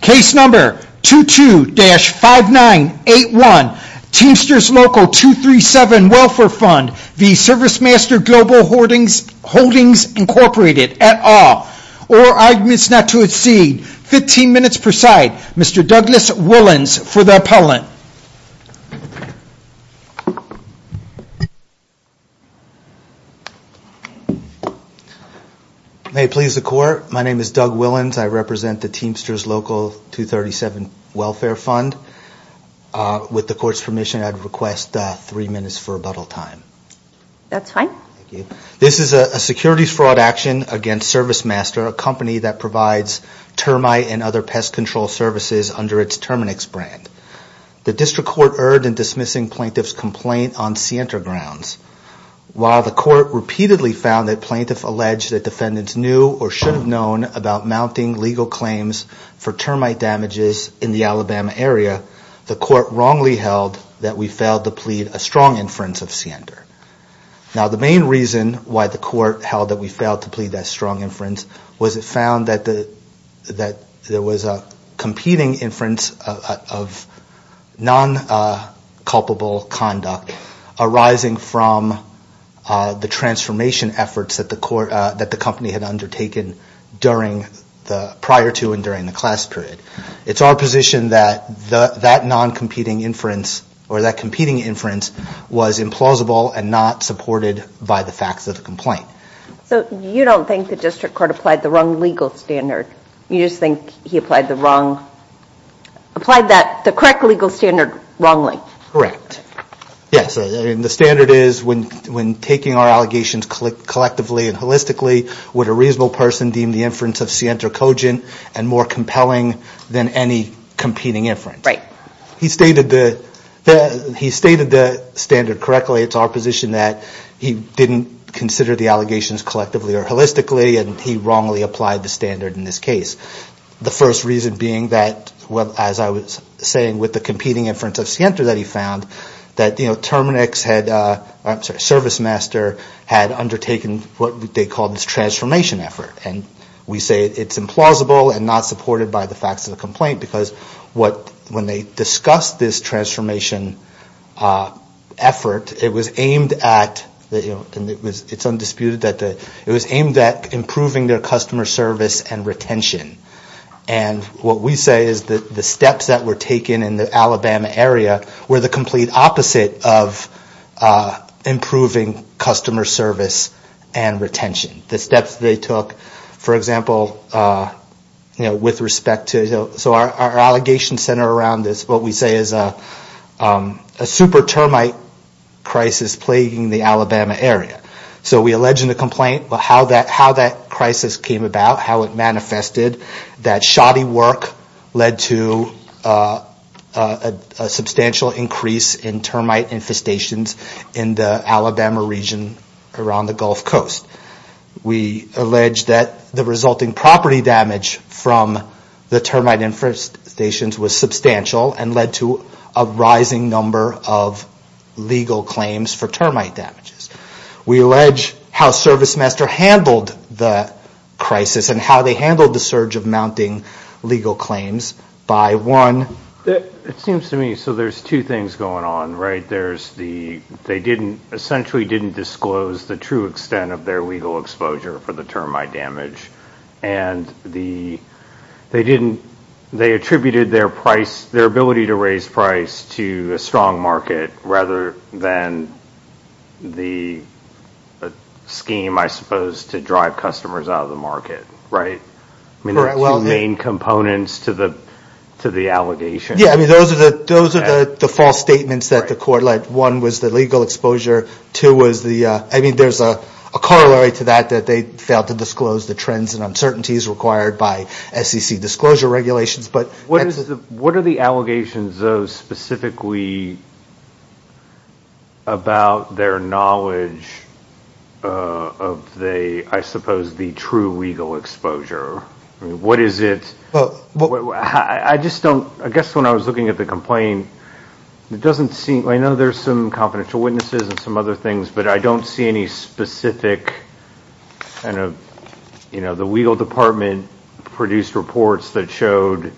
Case number 22-5981, Teamsters LCL 237 Welfare Fund v. ServiceMaster Global Holdings, Inc. at all, or arguments not to exceed 15 minutes per side. Mr. Douglas Willans for the appellant. May it please the court, my name is Doug Willans. I represent the Teamsters LCL 237 Welfare Fund. With the court's permission, I'd request three minutes for rebuttal time. That's fine. Thank you. This is a securities fraud action against ServiceMaster, a company that provides termite and other pest control services under its Terminix brand. The district court erred in dismissing plaintiff's complaint on Sientra grounds. While the court repeatedly found that plaintiff alleged that defendants knew or should have known about mounting legal claims for termite damages in the Alabama area, the court wrongly held that we failed to plead a strong inference of Sientra. Now the main reason why the court held that we failed to plead that strong inference was it found that there was a competing inference of non-culpable conduct arising from the transformation efforts that the company had undertaken prior to and during the class period. It's our position that that non-competing inference or that competing inference was implausible and not supported by the facts of the complaint. So you don't think the district court applied the wrong legal standard? You just think he applied the correct legal standard wrongly? Correct. Yes. The standard is when taking our allegations collectively and holistically, would a reasonable person deem the inference of Sientra cogent and more compelling than any competing inference? He stated the standard correctly. It's our position that he didn't consider the allegations collectively or holistically and he wrongly applied the standard in this case. The first reason being that, as I was saying, with the competing inference of Sientra that we found that Terminix had, I'm sorry, ServiceMaster had undertaken what they called this transformation effort. We say it's implausible and not supported by the facts of the complaint because when they discussed this transformation effort, it was aimed at, and it's undisputed, it was aimed at improving their customer service and retention. And what we say is that the steps that were taken in the Alabama area were the complete opposite of improving customer service and retention. The steps they took, for example, with respect to, so our allegation center around this, what we say is a super termite crisis plaguing the Alabama area. So we allege in the complaint how that crisis came about, how it manifested, that shoddy work led to a substantial increase in termite infestations in the Alabama region around the Gulf Coast. We allege that the resulting property damage from the termite infestations was substantial and led to a rising number of legal claims for termite damages. We allege how ServiceMaster handled the crisis and how they handled the surge of mounting legal claims by one... It seems to me, so there's two things going on, right? They essentially didn't disclose the true extent of their legal exposure for the termite damage and they attributed their price, their ability to raise price to a strong market rather than the scheme, I suppose, to drive customers out of the market, right? I mean, there are two main components to the allegation. Yeah, I mean, those are the false statements that the court led. One was the legal exposure. Two was the... I mean, there's a corollary to that, that they failed to disclose the trends and uncertainties required by SEC disclosure regulations, but... What are the allegations, though, specifically about their knowledge of the, I suppose, the true legal exposure? What is it? I just don't... I guess when I was looking at the complaint, it doesn't seem... I know there's some confidential witnesses and some other things, but I don't see any specific kind of... The legal department produced reports that showed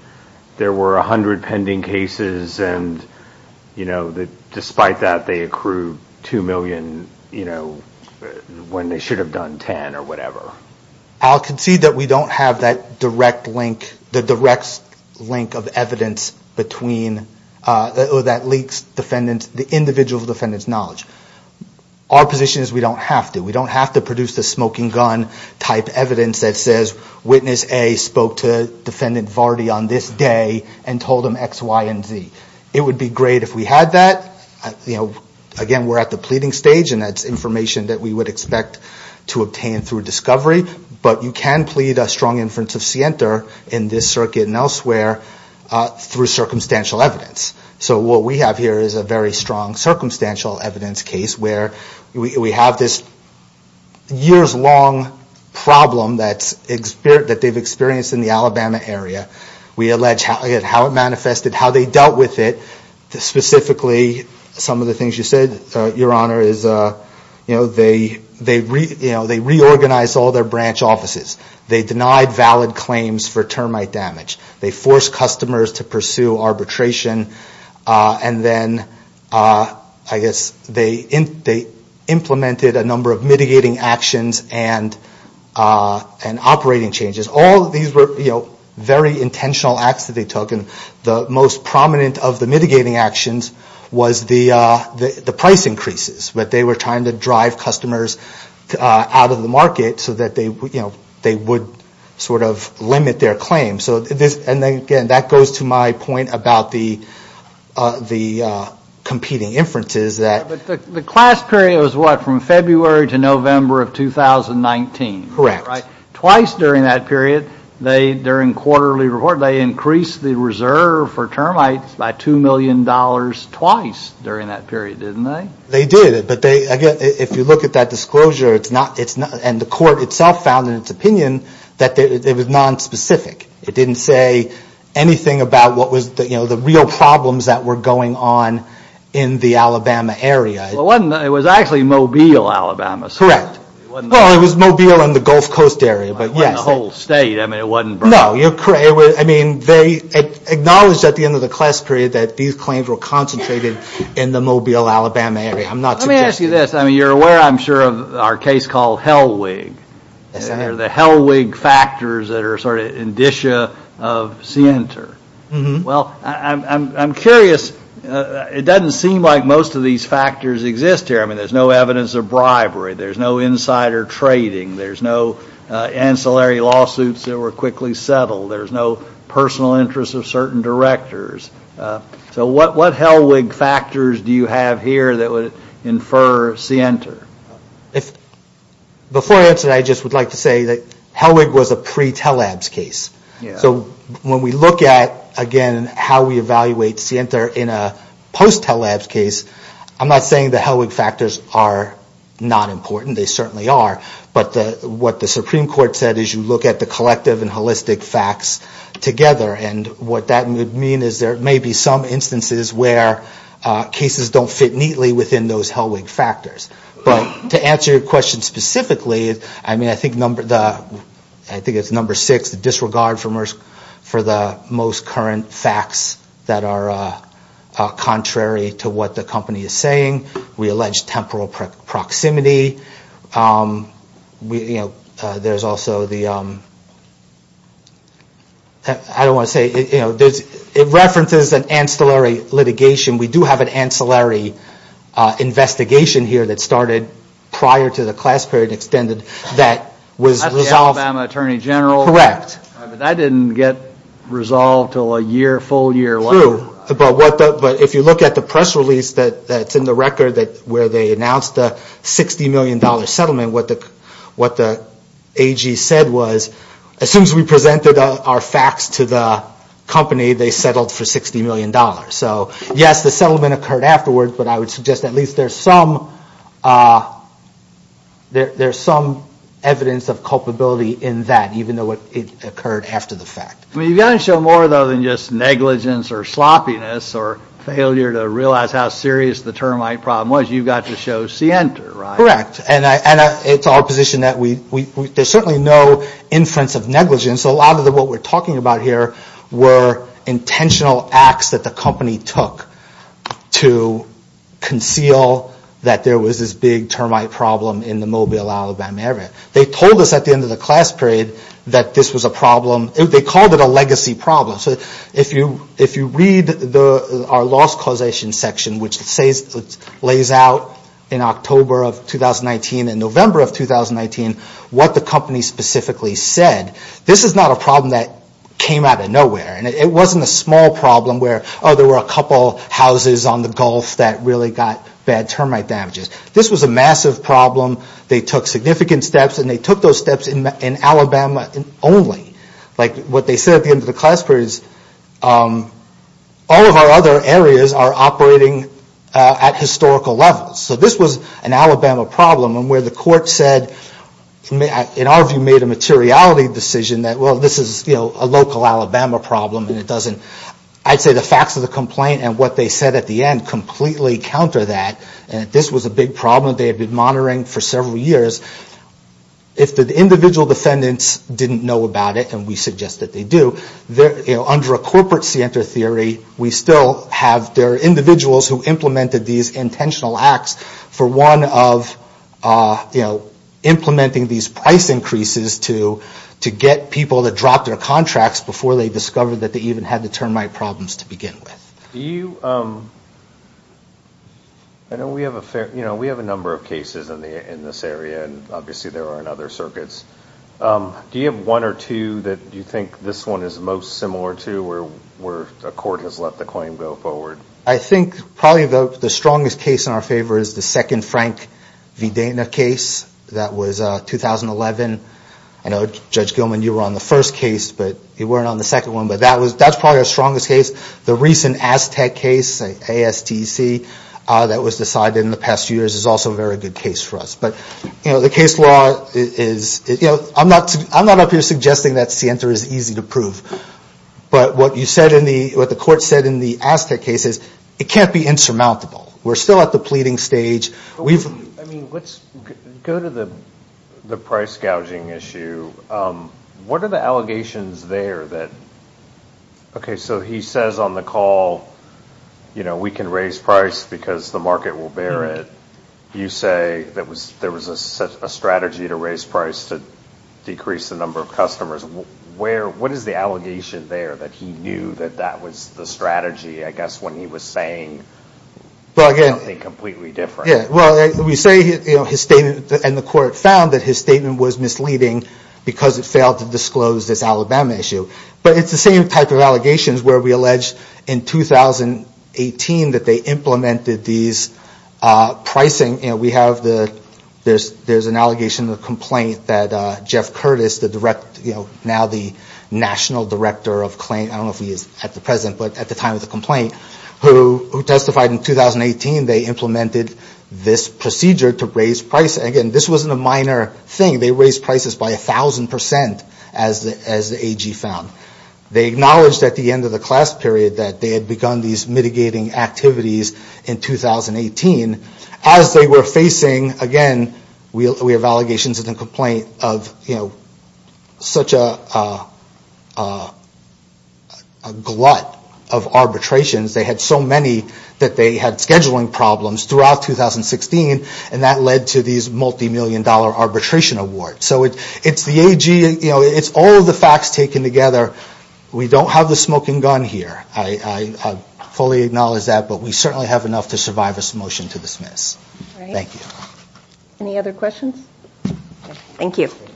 there were 100 pending cases and that despite that, they accrued 2 million when they should have done 10 or whatever. I'll concede that we don't have that direct link, the direct link of evidence between... That leaks the individual defendant's knowledge. Our position is we don't have to. We don't have to produce the smoking gun type evidence that says, witness A spoke to defendant Vardy on this day and told him X, Y, and Z. It would be great if we had that. Again, we're at the pleading stage and that's information that we would expect to obtain through discovery, but you can plead a strong inference of scienter in this circuit and elsewhere through circumstantial evidence. What we have here is a very strong circumstantial evidence case where we have this years long problem that they've experienced in the Alabama area. We allege how it manifested, how they dealt with it, specifically, some of the things you said, your honor, is they reorganized all their branch offices. They denied valid claims for termite damage. They forced customers to pursue arbitration and then, I guess, they implemented a number of mitigating actions and operating changes. All of these were very intentional acts that they took and the most prominent of the mitigating actions was the price increases, that they were trying to drive customers out of the market so that they would sort of limit their claims. And again, that goes to my point about the competing inferences that... But the class period was what, from February to November of 2019? Correct. Twice during that period, during quarterly report, they increased the reserve for termites by $2 million twice during that period, didn't they? They did, but again, if you look at that disclosure, and the court itself found in its opinion that it was nonspecific. It didn't say anything about what was the real problems that were going on in the Alabama area. Well, it was actually Mobile, Alabama. Correct. Well, it was Mobile and the Gulf Coast area, but yes. It wasn't the whole state. I mean, it wasn't... No, you're correct. I mean, they acknowledged at the end of the class period that these claims were concentrated in the Mobile, Alabama area. I'm not suggesting... Let me ask you this. I mean, you're aware, I'm sure, of our case called Hellwig. Yes, I am. The Hellwig factors that are sort of indicia of Sienter. Well, I'm curious. It doesn't seem like most of these factors exist here. I mean, there's no evidence of bribery. There's no insider trading. There's no ancillary lawsuits that were quickly settled. There's no personal interest of certain directors. So what Hellwig factors do you have here that would infer Sienter? Before I answer that, I just would like to say that Hellwig was a pre-Tel-Labs case. So when we look at, again, how we evaluate Sienter in a post-Tel-Labs case, I'm not saying the Hellwig factors are not important. They certainly are. But what the Supreme Court said is you look at the collective and holistic facts together. And what that would mean is there may be some instances where cases don't fit neatly within those Hellwig factors. But to answer your question specifically, I mean, I think it's number six, the disregard for the most current facts that are contrary to what the company is saying. We allege temporal proximity. There's also the... I don't want to say... It references an ancillary litigation. We do have an ancillary investigation here that started prior to the class period extended that was resolved. That's the Alabama Attorney General. Correct. But that didn't get resolved until a year, full year later. True. But if you look at the press release that's in the record where they announced the $60 million settlement, what the AG said was, as soon as we presented our facts to the company, they settled for $60 million. So yes, the settlement occurred afterwards, but I would suggest at least there's some evidence of culpability in that, even though it occurred after the fact. You've got to show more, though, than just negligence or sloppiness or failure to realize how serious the termite problem was. You've got to show scienter, right? Correct. And it's our position that there's certainly no inference of negligence. A lot of what we're talking about here were intentional acts that the company took to conceal that there was this big termite problem in the Mobile, Alabama area. They told us at the end of the class period that this was a problem. They called it a legacy problem. So if you read our loss causation section, which lays out in October of 2019 and November of 2019 what the company specifically said, this is not a problem that came out of nowhere. It wasn't a small problem where, oh, there were a couple houses on the Gulf that really got bad termite damages. This was a massive problem. They took significant steps, and they took those steps in Alabama only. What they said at the end of the class period is, all of our other areas are operating at historical levels. So this was an Alabama problem, and where the court said, in our view, made a materiality decision that, well, this is a local Alabama problem, and it doesn't, I'd say the facts of the complaint and what they said at the end completely counter that. This was a big problem they had been monitoring for several years. If the individual defendants didn't know about it, and we suggest that they do, under a corporate scienter theory, we still have, there are individuals who implemented these intentional acts for one of implementing these price increases to get people to drop their contracts before they discovered that they even had the termite problems to begin with. Do you, I know we have a fair, we have a number of cases in this area, and obviously there are in other circuits. Do you have one or two that you think this one is most similar to, where a court has let the claim go forward? I think probably the strongest case in our favor is the second Frank Videna case. That was 2011. I know, Judge Gilman, you were on the first case, but you weren't on the second one. But that was, that's probably our strongest case. The recent Aztec case, A-S-T-E-C, that was decided in the past few years is also a very good case for us. But, you know, the case law is, you know, I'm not up here suggesting that scienter is easy to prove. But what you said in the, what the court said in the Aztec case is, it can't be insurmountable. We're still at the pleading stage. We've I mean, let's go to the price gouging issue. What are the allegations there that, okay, so he says on the call, you know, we can raise price because the market will bear it. You say that there was a strategy to raise price to decrease the number of customers. What is the allegation there that he knew that that was the strategy, I guess, when he was saying something completely different? Well, we say, you know, his statement, and the court found that his statement was misleading because it failed to disclose this Alabama issue. But it's the same type of allegations where we allege in 2018 that they implemented these pricing, you know, we have the, there's an allegation of complaint that Jeff Curtis, the direct, you know, now the national director of claim, I don't know if he is at the present, but at the time of the complaint, who testified in 2018, they implemented this procedure to raise price. Again, this wasn't a minor thing. They raised prices by 1,000% as the AG found. They acknowledged at the end of the class period that they had begun these mitigating activities in 2018 as they were facing, again, we have allegations of the complaint of, you know, such a glut of arbitrations. They had so many that they had scheduling problems throughout 2016, and that led to these multimillion dollar arbitration awards. So it's the AG, you know, it's all of the facts taken together. We don't have the smoking gun here. I fully acknowledge that, but we certainly have enough to survive this motion to dismiss. Thank you. Any other questions? Thank you. Thank you.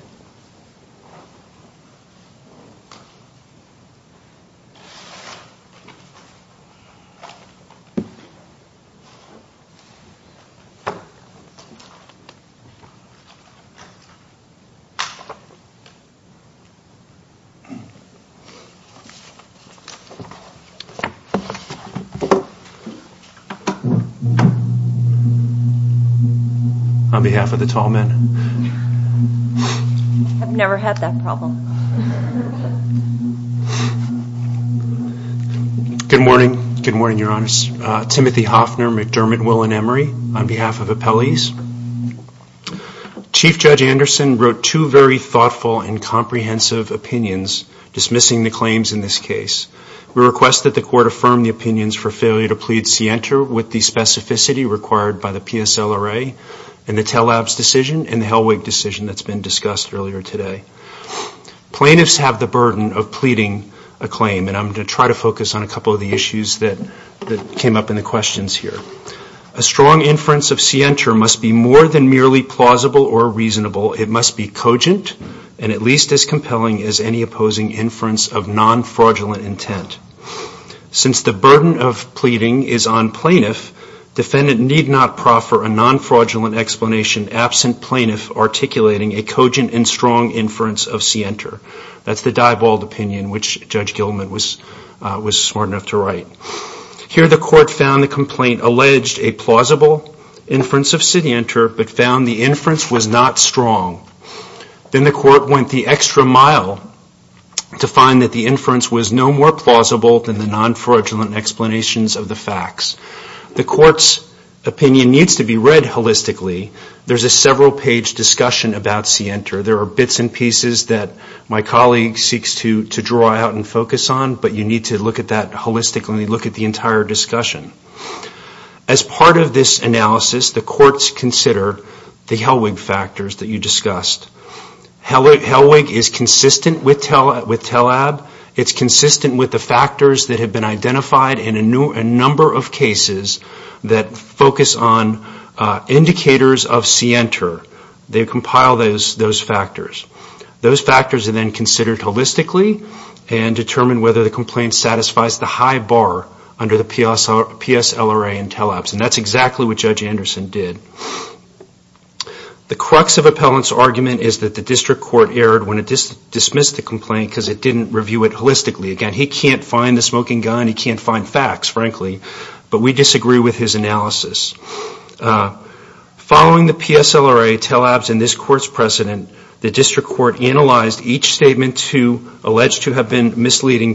On behalf of the Tallmen. I've never had that problem. Good morning. Good morning, Your Honors. Timothy Hoffner, McDermott, Will and Emery on behalf of appellees. Chief Judge Anderson wrote two very thoughtful and comprehensive opinions dismissing the claims in this case. We request that the court affirm the opinions for failure to plead scienter with the specificity required by the PSLRA and the TELL Labs decision and the Hellwig decision that's been discussed earlier today. Plaintiffs have the burden of pleading a claim, and I'm going to try to focus on a couple of the issues that came up in the questions here. A strong inference of scienter must be more than merely plausible or reasonable. It must be cogent and at least as compelling as any opposing inference of non-fraudulent intent. Since the burden of pleading is on plaintiff, defendant need not proffer a non-fraudulent explanation absent plaintiff articulating a cogent and strong inference of scienter. That's the die-balled opinion which Judge Gilman was smart enough to write. Here the court found the complaint alleged a plausible inference of scienter but found the inference was not strong. Then the court went the extra mile to find that the inference was no more plausible than the non-fraudulent explanations of the facts. The court's opinion needs to be read holistically. There's a several-page discussion about scienter. There are bits and pieces that my colleague seeks to draw out and focus on, but you need to look at that holistically and look at the entire discussion. As part of this analysis, the courts consider the Hellwig factors that you discussed. Hellwig is consistent with TELAB. It's consistent with the factors that have been identified in a number of cases that focus on indicators of scienter. They compile those factors. Those factors are then considered holistically and determine whether the complaint satisfies the high bar under the PSLRA and TELABS. That's exactly what Judge Anderson did. The crux of Appellant's argument is that the district court erred when it dismissed the complaint because it didn't review it holistically. Again, he can't find the smoking gun. He can't find facts, frankly, but we disagree with his analysis. Following the PSLRA, TELABS, and this court's precedent, the district court analyzed each misleading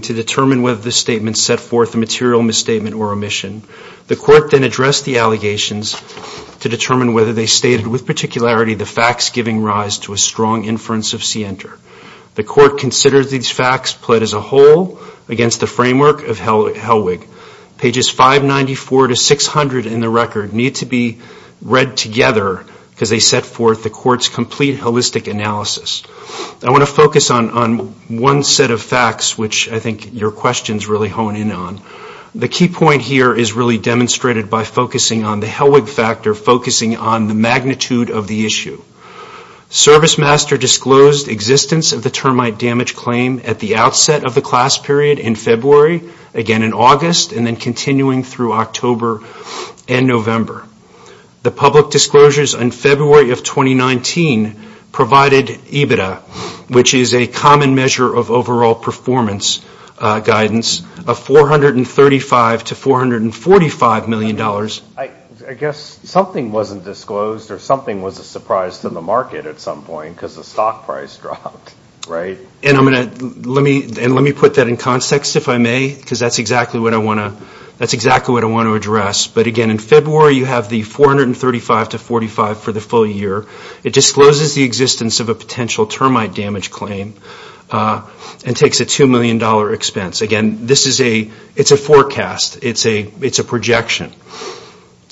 to determine whether the statement set forth a material misstatement or omission. The court then addressed the allegations to determine whether they stated with particularity the facts giving rise to a strong inference of scienter. The court considered these facts pled as a whole against the framework of Hellwig. Pages 594 to 600 in the record need to be read together because they set forth the court's complete holistic analysis. I want to focus on one set of facts, which I think your questions really hone in on. The key point here is really demonstrated by focusing on the Hellwig factor, focusing on the magnitude of the issue. Servicemaster disclosed existence of the termite damage claim at the outset of the class period in February, again in August, and then continuing through October and November. The public disclosures in February of 2019 provided EBITDA, which is a common measure of overall performance guidance, of $435 to $445 million. I guess something wasn't disclosed or something was a surprise to the market at some point because the stock price dropped, right? Let me put that in context, if I may, because that's exactly what I want to address. But again, in February you have the $435 to $445 for the full year. It discloses the existence of a potential termite damage claim and takes a $2 million expense. Again, it's a forecast, it's a projection.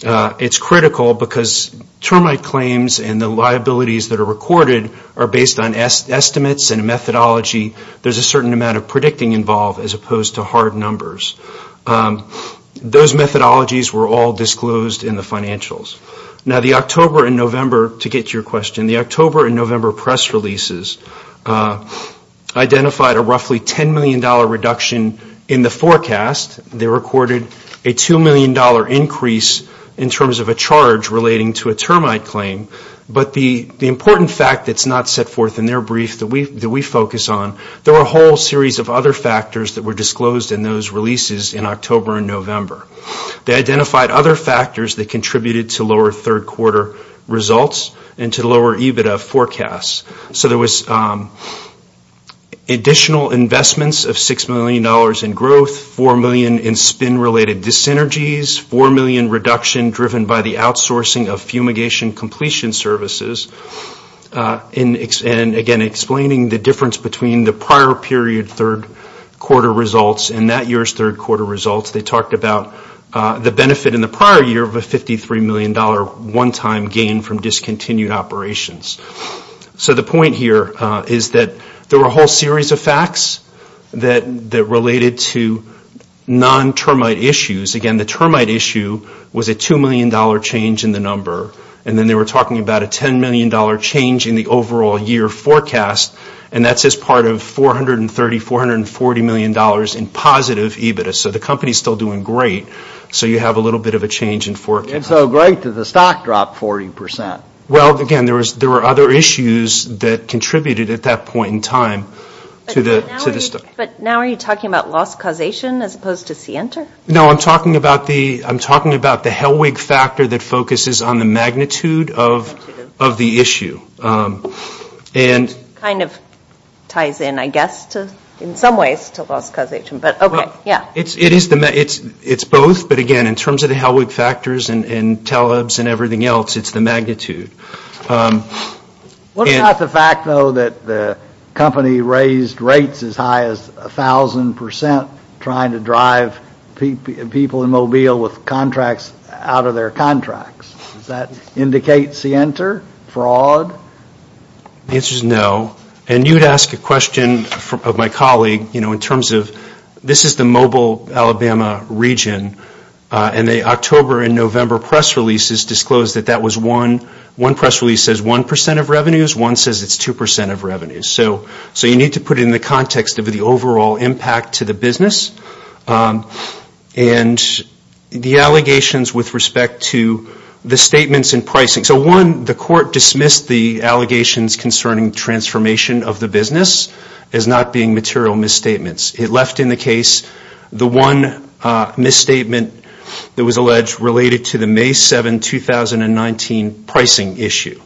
It's critical because termite claims and the liabilities that are recorded are based on estimates and methodology, there's a certain amount of predicting involved as opposed to hard numbers. Those methodologies were all disclosed in the financials. Now the October and November, to get to your question, the October and November press releases identified a roughly $10 million reduction in the forecast. They recorded a $2 million increase in terms of a charge relating to a termite claim. But the important fact that's not set forth in their brief that we focus on, there were a whole series of other factors that were disclosed in those releases in October and November. They identified other factors that contributed to lower third quarter results and to lower EBITDA forecasts. So there was additional investments of $6 million in growth, $4 million in spin-related disenergies, $4 million reduction driven by the outsourcing of fumigation completion services, and again, explaining the difference between the prior period third quarter results and that year's third quarter results. They talked about the benefit in the prior year of a $53 million one-time gain from discontinued operations. So the point here is that there were a whole series of facts that related to non-termite issues. Again, the termite issue was a $2 million change in the number, and then they were talking about a $10 million change in the overall year forecast, and that's as part of $430, $440 million in positive EBITDA. So the company's still doing great. So you have a little bit of a change in forecast. And so great that the stock dropped 40%. Well, again, there were other issues that contributed at that point in time to the stock. But now are you talking about loss causation as opposed to Center? No, I'm talking about the Helwig factor that focuses on the magnitude of the issue. And... It kind of ties in, I guess, in some ways to loss causation, but okay, yeah. It's both, but again, in terms of the Helwig factors and TELEBS and everything else, it's the magnitude. What about the fact, though, that the company raised rates as high as 1,000% trying to drive people in Mobile with contracts out of their contracts? Does that indicate Center fraud? The answer is no. And you'd ask a question of my colleague, you know, in terms of this is the Mobile, Alabama region, and the October and November press releases disclosed that that was one. One press release says 1% of revenues. One says it's 2% of revenues. So you need to put it in the context of the overall impact to the business. And the allegations with respect to the statements and pricing. So one, the court dismissed the allegations concerning transformation of the business as not being material misstatements. It left in the case the one misstatement that was alleged related to the May 7, 2019 pricing issue.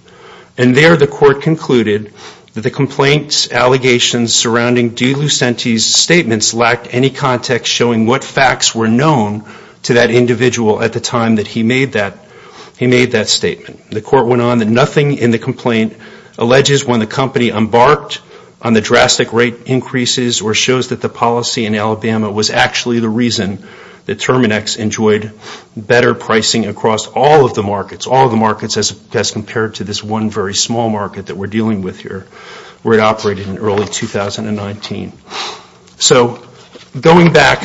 And there the court concluded that the complaints, allegations surrounding De Lucente's statements lacked any context showing what facts were known to that individual at the time that he made that statement. The court went on that nothing in the complaint alleges when the company embarked on the drastic rate increases or shows that the policy in Alabama was actually the reason that Terminex enjoyed better pricing across all of the markets, as compared to this one very small market that we're dealing with here, where it operated in early 2019. So going back,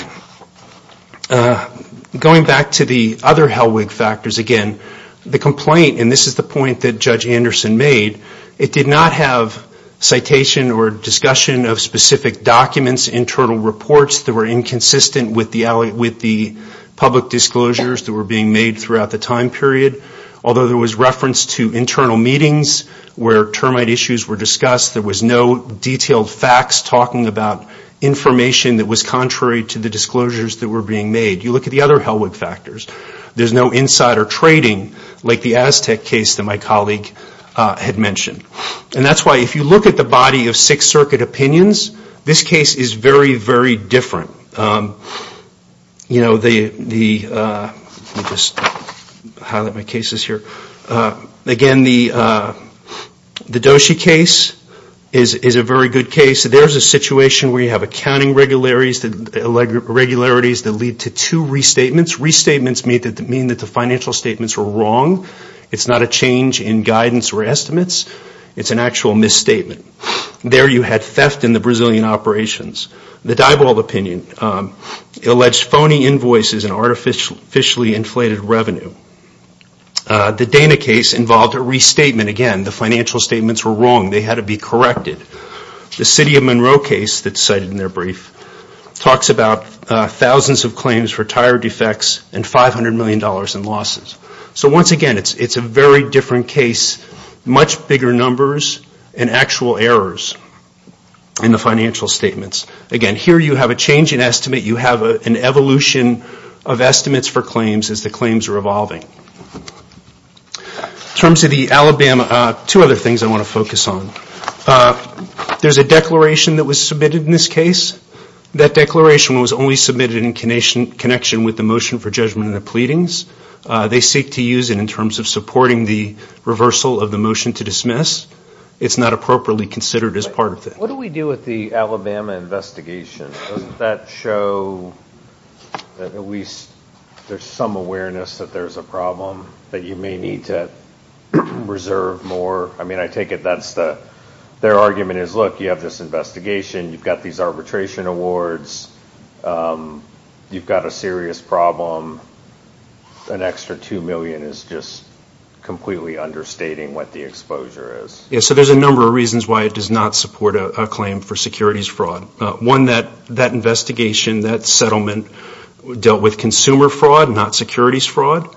going back to the other Hellwig factors again, the complaint, and this is the point that Judge Anderson made, it did not have citation or discussion of specific documents, internal reports that were inconsistent with the public disclosures that were being made throughout the time period. Although there was reference to internal meetings where termite issues were discussed, there was no detailed facts talking about information that was contrary to the disclosures that were being made. You look at the other Hellwig factors, there's no insider trading like the Aztec case that my colleague had mentioned. And that's why if you look at the body of Sixth Circuit opinions, this case is very, very different. You know, the, let me just highlight my cases here. Again, the Doshi case is a very good case. There's a situation where you have accounting regularities that lead to two restatements. Restatements mean that the financial statements were wrong. It's not a change in guidance or estimates. It's an actual misstatement. There you had theft in the Brazilian operations. The Dybald opinion alleged phony invoices and artificially inflated revenue. The Dana case involved a restatement. Again, the financial statements were wrong. They had to be corrected. The City of Monroe case that's cited in their brief talks about thousands of claims for tire defects and $500 million in losses. So once again, it's a very different case. Much bigger numbers and actual errors in the financial statements. Again, here you have a change in estimate. You have an evolution of estimates for claims as the claims are evolving. In terms of the Alabama, two other things I want to focus on. There's a declaration that was submitted in this case. That declaration was only submitted in connection with the motion for judgment in the pleadings. They seek to use it in terms of supporting the reversal of the motion to dismiss. It's not appropriately considered as part of it. What do we do with the Alabama investigation? Doesn't that show that at least there's some awareness that there's a problem, that you may need to reserve more? I mean, I take it that's the, their argument is, look, you have this investigation. You've got these arbitration awards. You've got a serious problem. An extra $2 million is just completely understating what the exposure is. Yeah, so there's a number of reasons why it does not support a claim for securities fraud. One, that investigation, that settlement dealt with consumer fraud, not securities fraud.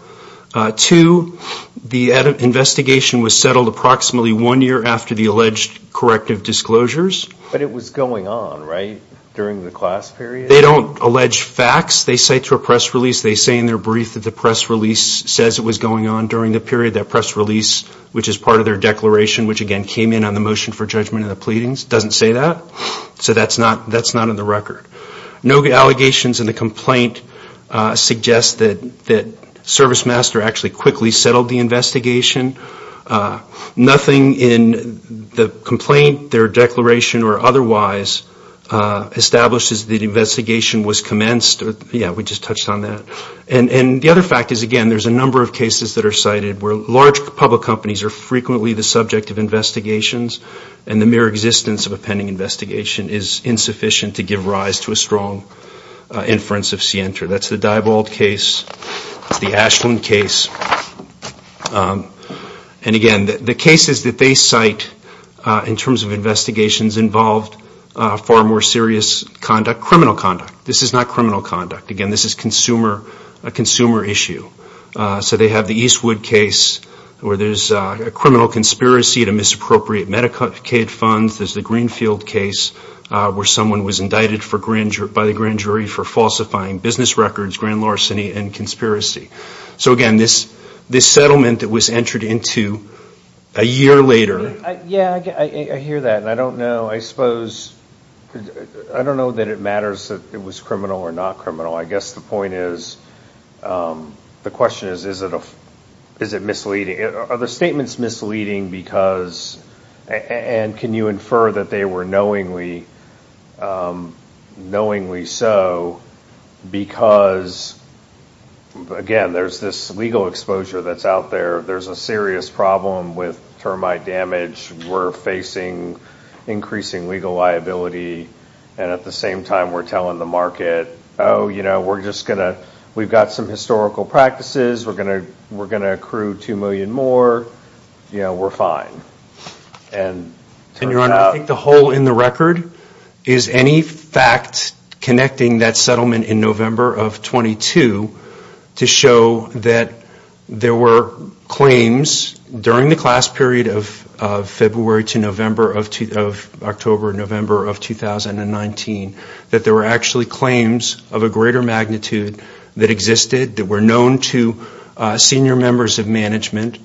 Two, the investigation was settled approximately one year after the alleged corrective disclosures. But it was going on, right, during the class period? They don't allege facts. They cite to a press release. They say in their brief that the press release says it was going on during the period that press release, which is part of their declaration, which again came in on the motion for judgment in the pleadings, doesn't say that. So that's not in the record. No allegations in the complaint suggest that ServiceMaster actually quickly settled the investigation. Nothing in the complaint, their declaration, or otherwise establishes that the investigation was commenced. Yeah, we just touched on that. And the other fact is, again, there's a number of cases that are cited where large public companies are frequently the subject of investigations and the mere existence of a pending investigation is insufficient to give rise to a strong inference of scienter. That's the Dybald case, the Ashland case, and again, the cases that they cite in terms of investigations involved far more serious conduct, criminal conduct. This is not criminal conduct. Again, this is a consumer issue. So they have the Eastwood case where there's a criminal conspiracy to misappropriate Medicaid funds. There's the Greenfield case where someone was indicted by the grand jury for falsifying business records, grand larceny, and conspiracy. So again, this settlement that was entered into a year later. Yeah, I hear that, and I don't know. I suppose, I don't know that it matters that it was criminal or not criminal. I guess the point is, the question is, is it misleading? Are the statements misleading because, and can you infer that they were knowingly so, because again, there's this legal exposure that's out there. There's a serious problem with termite damage. We're facing increasing legal liability, and at the same time, we're telling the market, oh, you know, we're just going to, we've got some historical practices. We're going to, we're going to accrue 2 million more. You know, we're fine. And your honor, I think the hole in the record is any fact connecting that settlement in November of 22 to show that there were claims during the class period of February to November of, October, November of 2019, that there were actually claims of a greater magnitude that existed, that were known to senior members of management,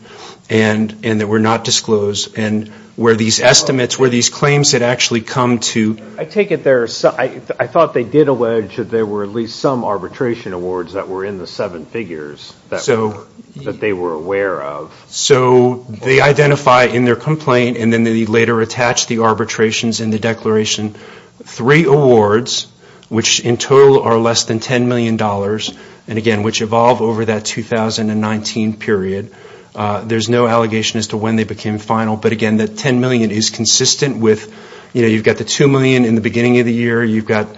and that were not disclosed. And where these estimates, where these claims had actually come to. I take it there, I thought they did allege that there were at least some arbitration awards that were in the seven figures that they were aware of. So, they identify in their complaint, and then they later attach the arbitrations in the declaration, three awards, which in total are less than 10 million dollars, and again, which evolve over that 2019 period. There's no allegation as to when they became final, but again, that 10 million is consistent with, you know, you've got the 2 million in the beginning of the year, you've got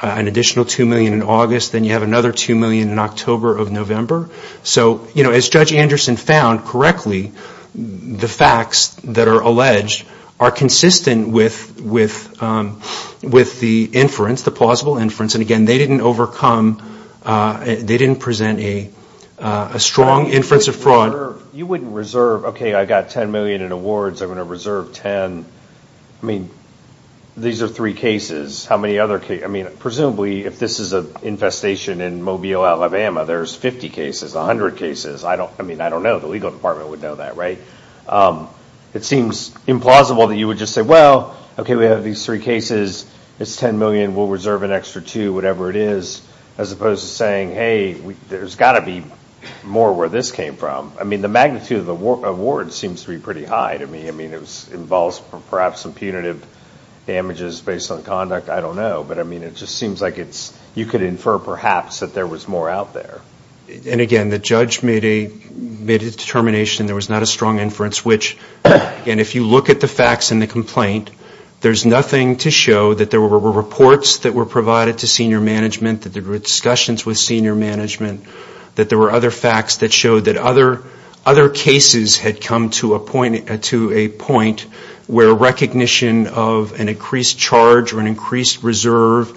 an additional 2 million in August, then you have another 2 million in October of November. So, you know, as Judge Anderson found correctly, the facts that are alleged are consistent with the inference, the plausible inference, and again, they didn't overcome, they didn't present a strong inference of fraud. You wouldn't reserve, okay, I've got 10 million in awards, I'm going to reserve 10. I mean, these are three cases, how many other cases, I mean, presumably, if this is an infestation in Mobile, Alabama, there's 50 cases, 100 cases. I don't, I mean, I don't know, the legal department would know that, right? It seems implausible that you would just say, well, okay, we have these three cases, it's 10 million, we'll reserve an extra 2, whatever it is, as opposed to saying, hey, there's got to be more where this came from. I mean, the magnitude of the award seems to be pretty high to me. I mean, it involves perhaps some punitive damages based on conduct, I don't know, but I mean, it just seems like it's, you could infer, perhaps, that there was more out there. And again, the judge made a determination there was not a strong inference, which, again, if you look at the facts in the complaint, there's nothing to show that there were reports that were provided to senior management, that there were discussions with senior management, that there were other facts that showed that other cases had come to a point where recognition of an increased charge or an increased reserve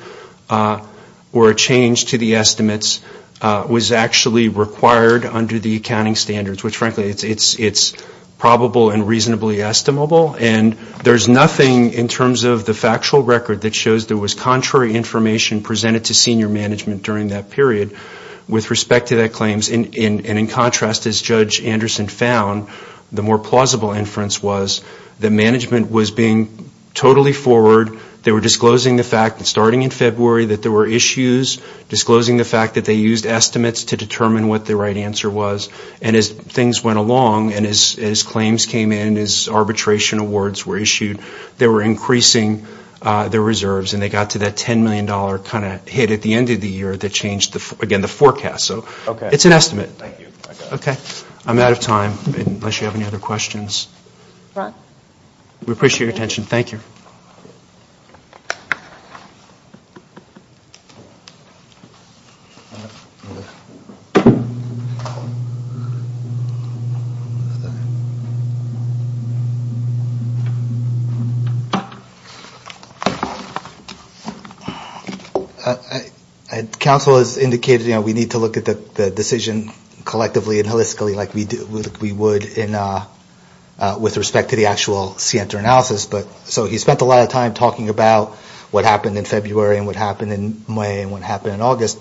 or a change to the estimates was actually required under the accounting standards. Which, frankly, it's probable and reasonably estimable. And there's nothing in terms of the factual record that shows there was contrary information presented to senior management during that period with respect to that claims. And in contrast, as Judge Anderson found, the more plausible inference was that management was being totally forward. They were disclosing the fact that starting in February that there were issues, disclosing the fact that they used estimates to determine what the right answer was. And as things went along and as claims came in, as arbitration awards were issued, they were increasing their reserves. And they got to that $10 million kind of hit at the end of the year that changed, again, the forecast. So it's an estimate. Okay. I'm out of time, unless you have any other questions. We appreciate your attention. Thank you. Council has indicated, you know, we need to look at the decision collectively and holistically like we would with respect to the actual Sienta analysis. So he spent a lot of time talking about what happened in February and what happened in May and what happened in August.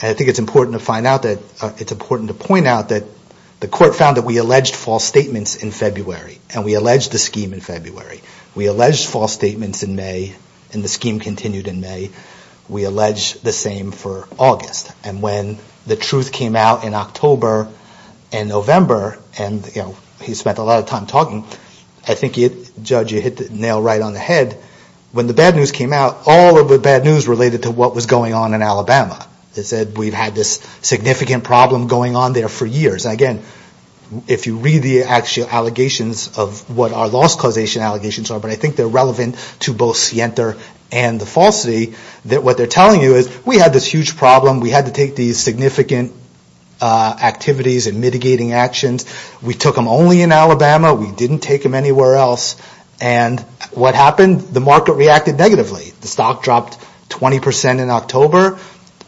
And I think it's important to point out that the court found that we alleged false statements in February and we alleged the scheme in February. We alleged false statements in May and the scheme continued in May. We alleged the same for August. And when the truth came out in October and November and, you know, he spent a lot of time talking, I think, Judge, you hit the nail right on the head. When the bad news came out, all of the bad news related to what was going on in Alabama. They said we've had this significant problem going on there for years. Again, if you read the actual allegations of what our loss causation allegations are, but I think they're relevant to both Sienta and the falsity, that what they're telling you is we had this huge problem. We had to take these significant activities and mitigating actions. We took them only in Alabama. We didn't take them anywhere else. And what happened? The market reacted negatively. The stock dropped 20% in October.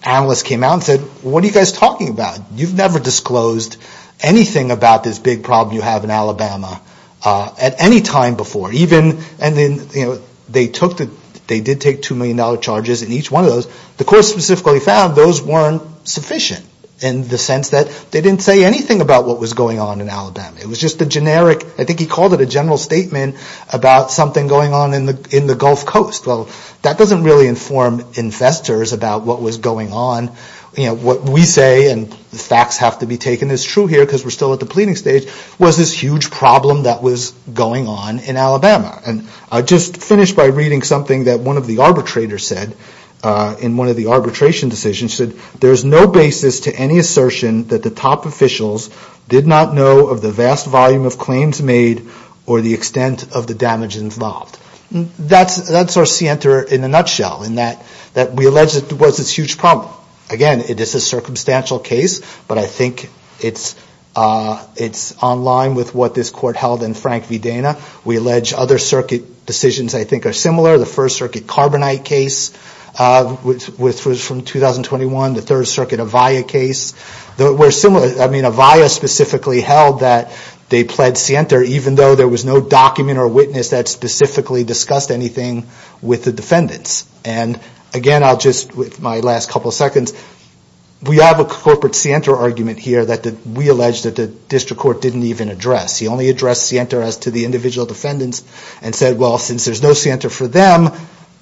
Analysts came out and said, what are you guys talking about? You've never disclosed anything about this big problem you have in Alabama at any time before, even, and then, you know, they took the, they did take $2 million charges in each one of those. The court specifically found those weren't sufficient in the sense that they didn't say anything about what was going on in Alabama. It was just a generic, I think he called it a general statement about something going on in the Gulf Coast. Well, that doesn't really inform investors about what was going on. You know, what we say, and facts have to be taken as true here because we're still at the pleading stage, was this huge problem that was going on in Alabama. And I'll just finish by reading something that one of the arbitrators said in one of the arbitration decisions, said there's no basis to any assertion that the top officials did not know of the vast volume of claims made or the extent of the damage involved. That's our scienter in a nutshell, in that we allege it was this huge problem. Again, it is a circumstantial case, but I think it's on line with what this court held in Frank V. Dana. We allege other circuit decisions, I think, are similar. The First Circuit Carbonite case, which was from 2021, the Third Circuit Avaya case. Avaya specifically held that they pled scienter even though there was no document or witness that specifically discussed anything with the defendants. And again, I'll just, with my last couple seconds, we have a corporate scienter argument here that we allege that the district court didn't even address. He only addressed scienter as to the individual defendants and said, well, since there's no scienter for them,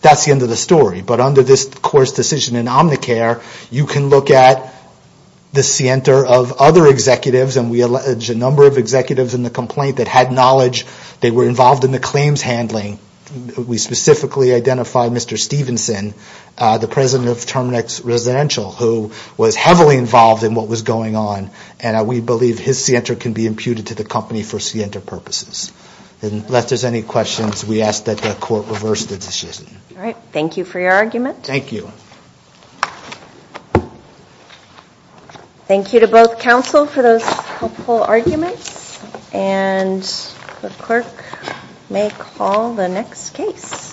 that's the end of the story. But under this court's decision in Omnicare, you can look at the scienter of other executives and we allege a number of executives in the complaint that had knowledge. They were involved in the claims handling. We specifically identified Mr. Stevenson, the president of Terminix Residential, who was heavily involved in what was going on. And we believe his scienter can be imputed to the company for scienter purposes. And unless there's any questions, we ask that the court reverse the decision. All right. Thank you for your argument. Thank you. Thank you to both counsel for those helpful arguments. And the clerk may call the next case.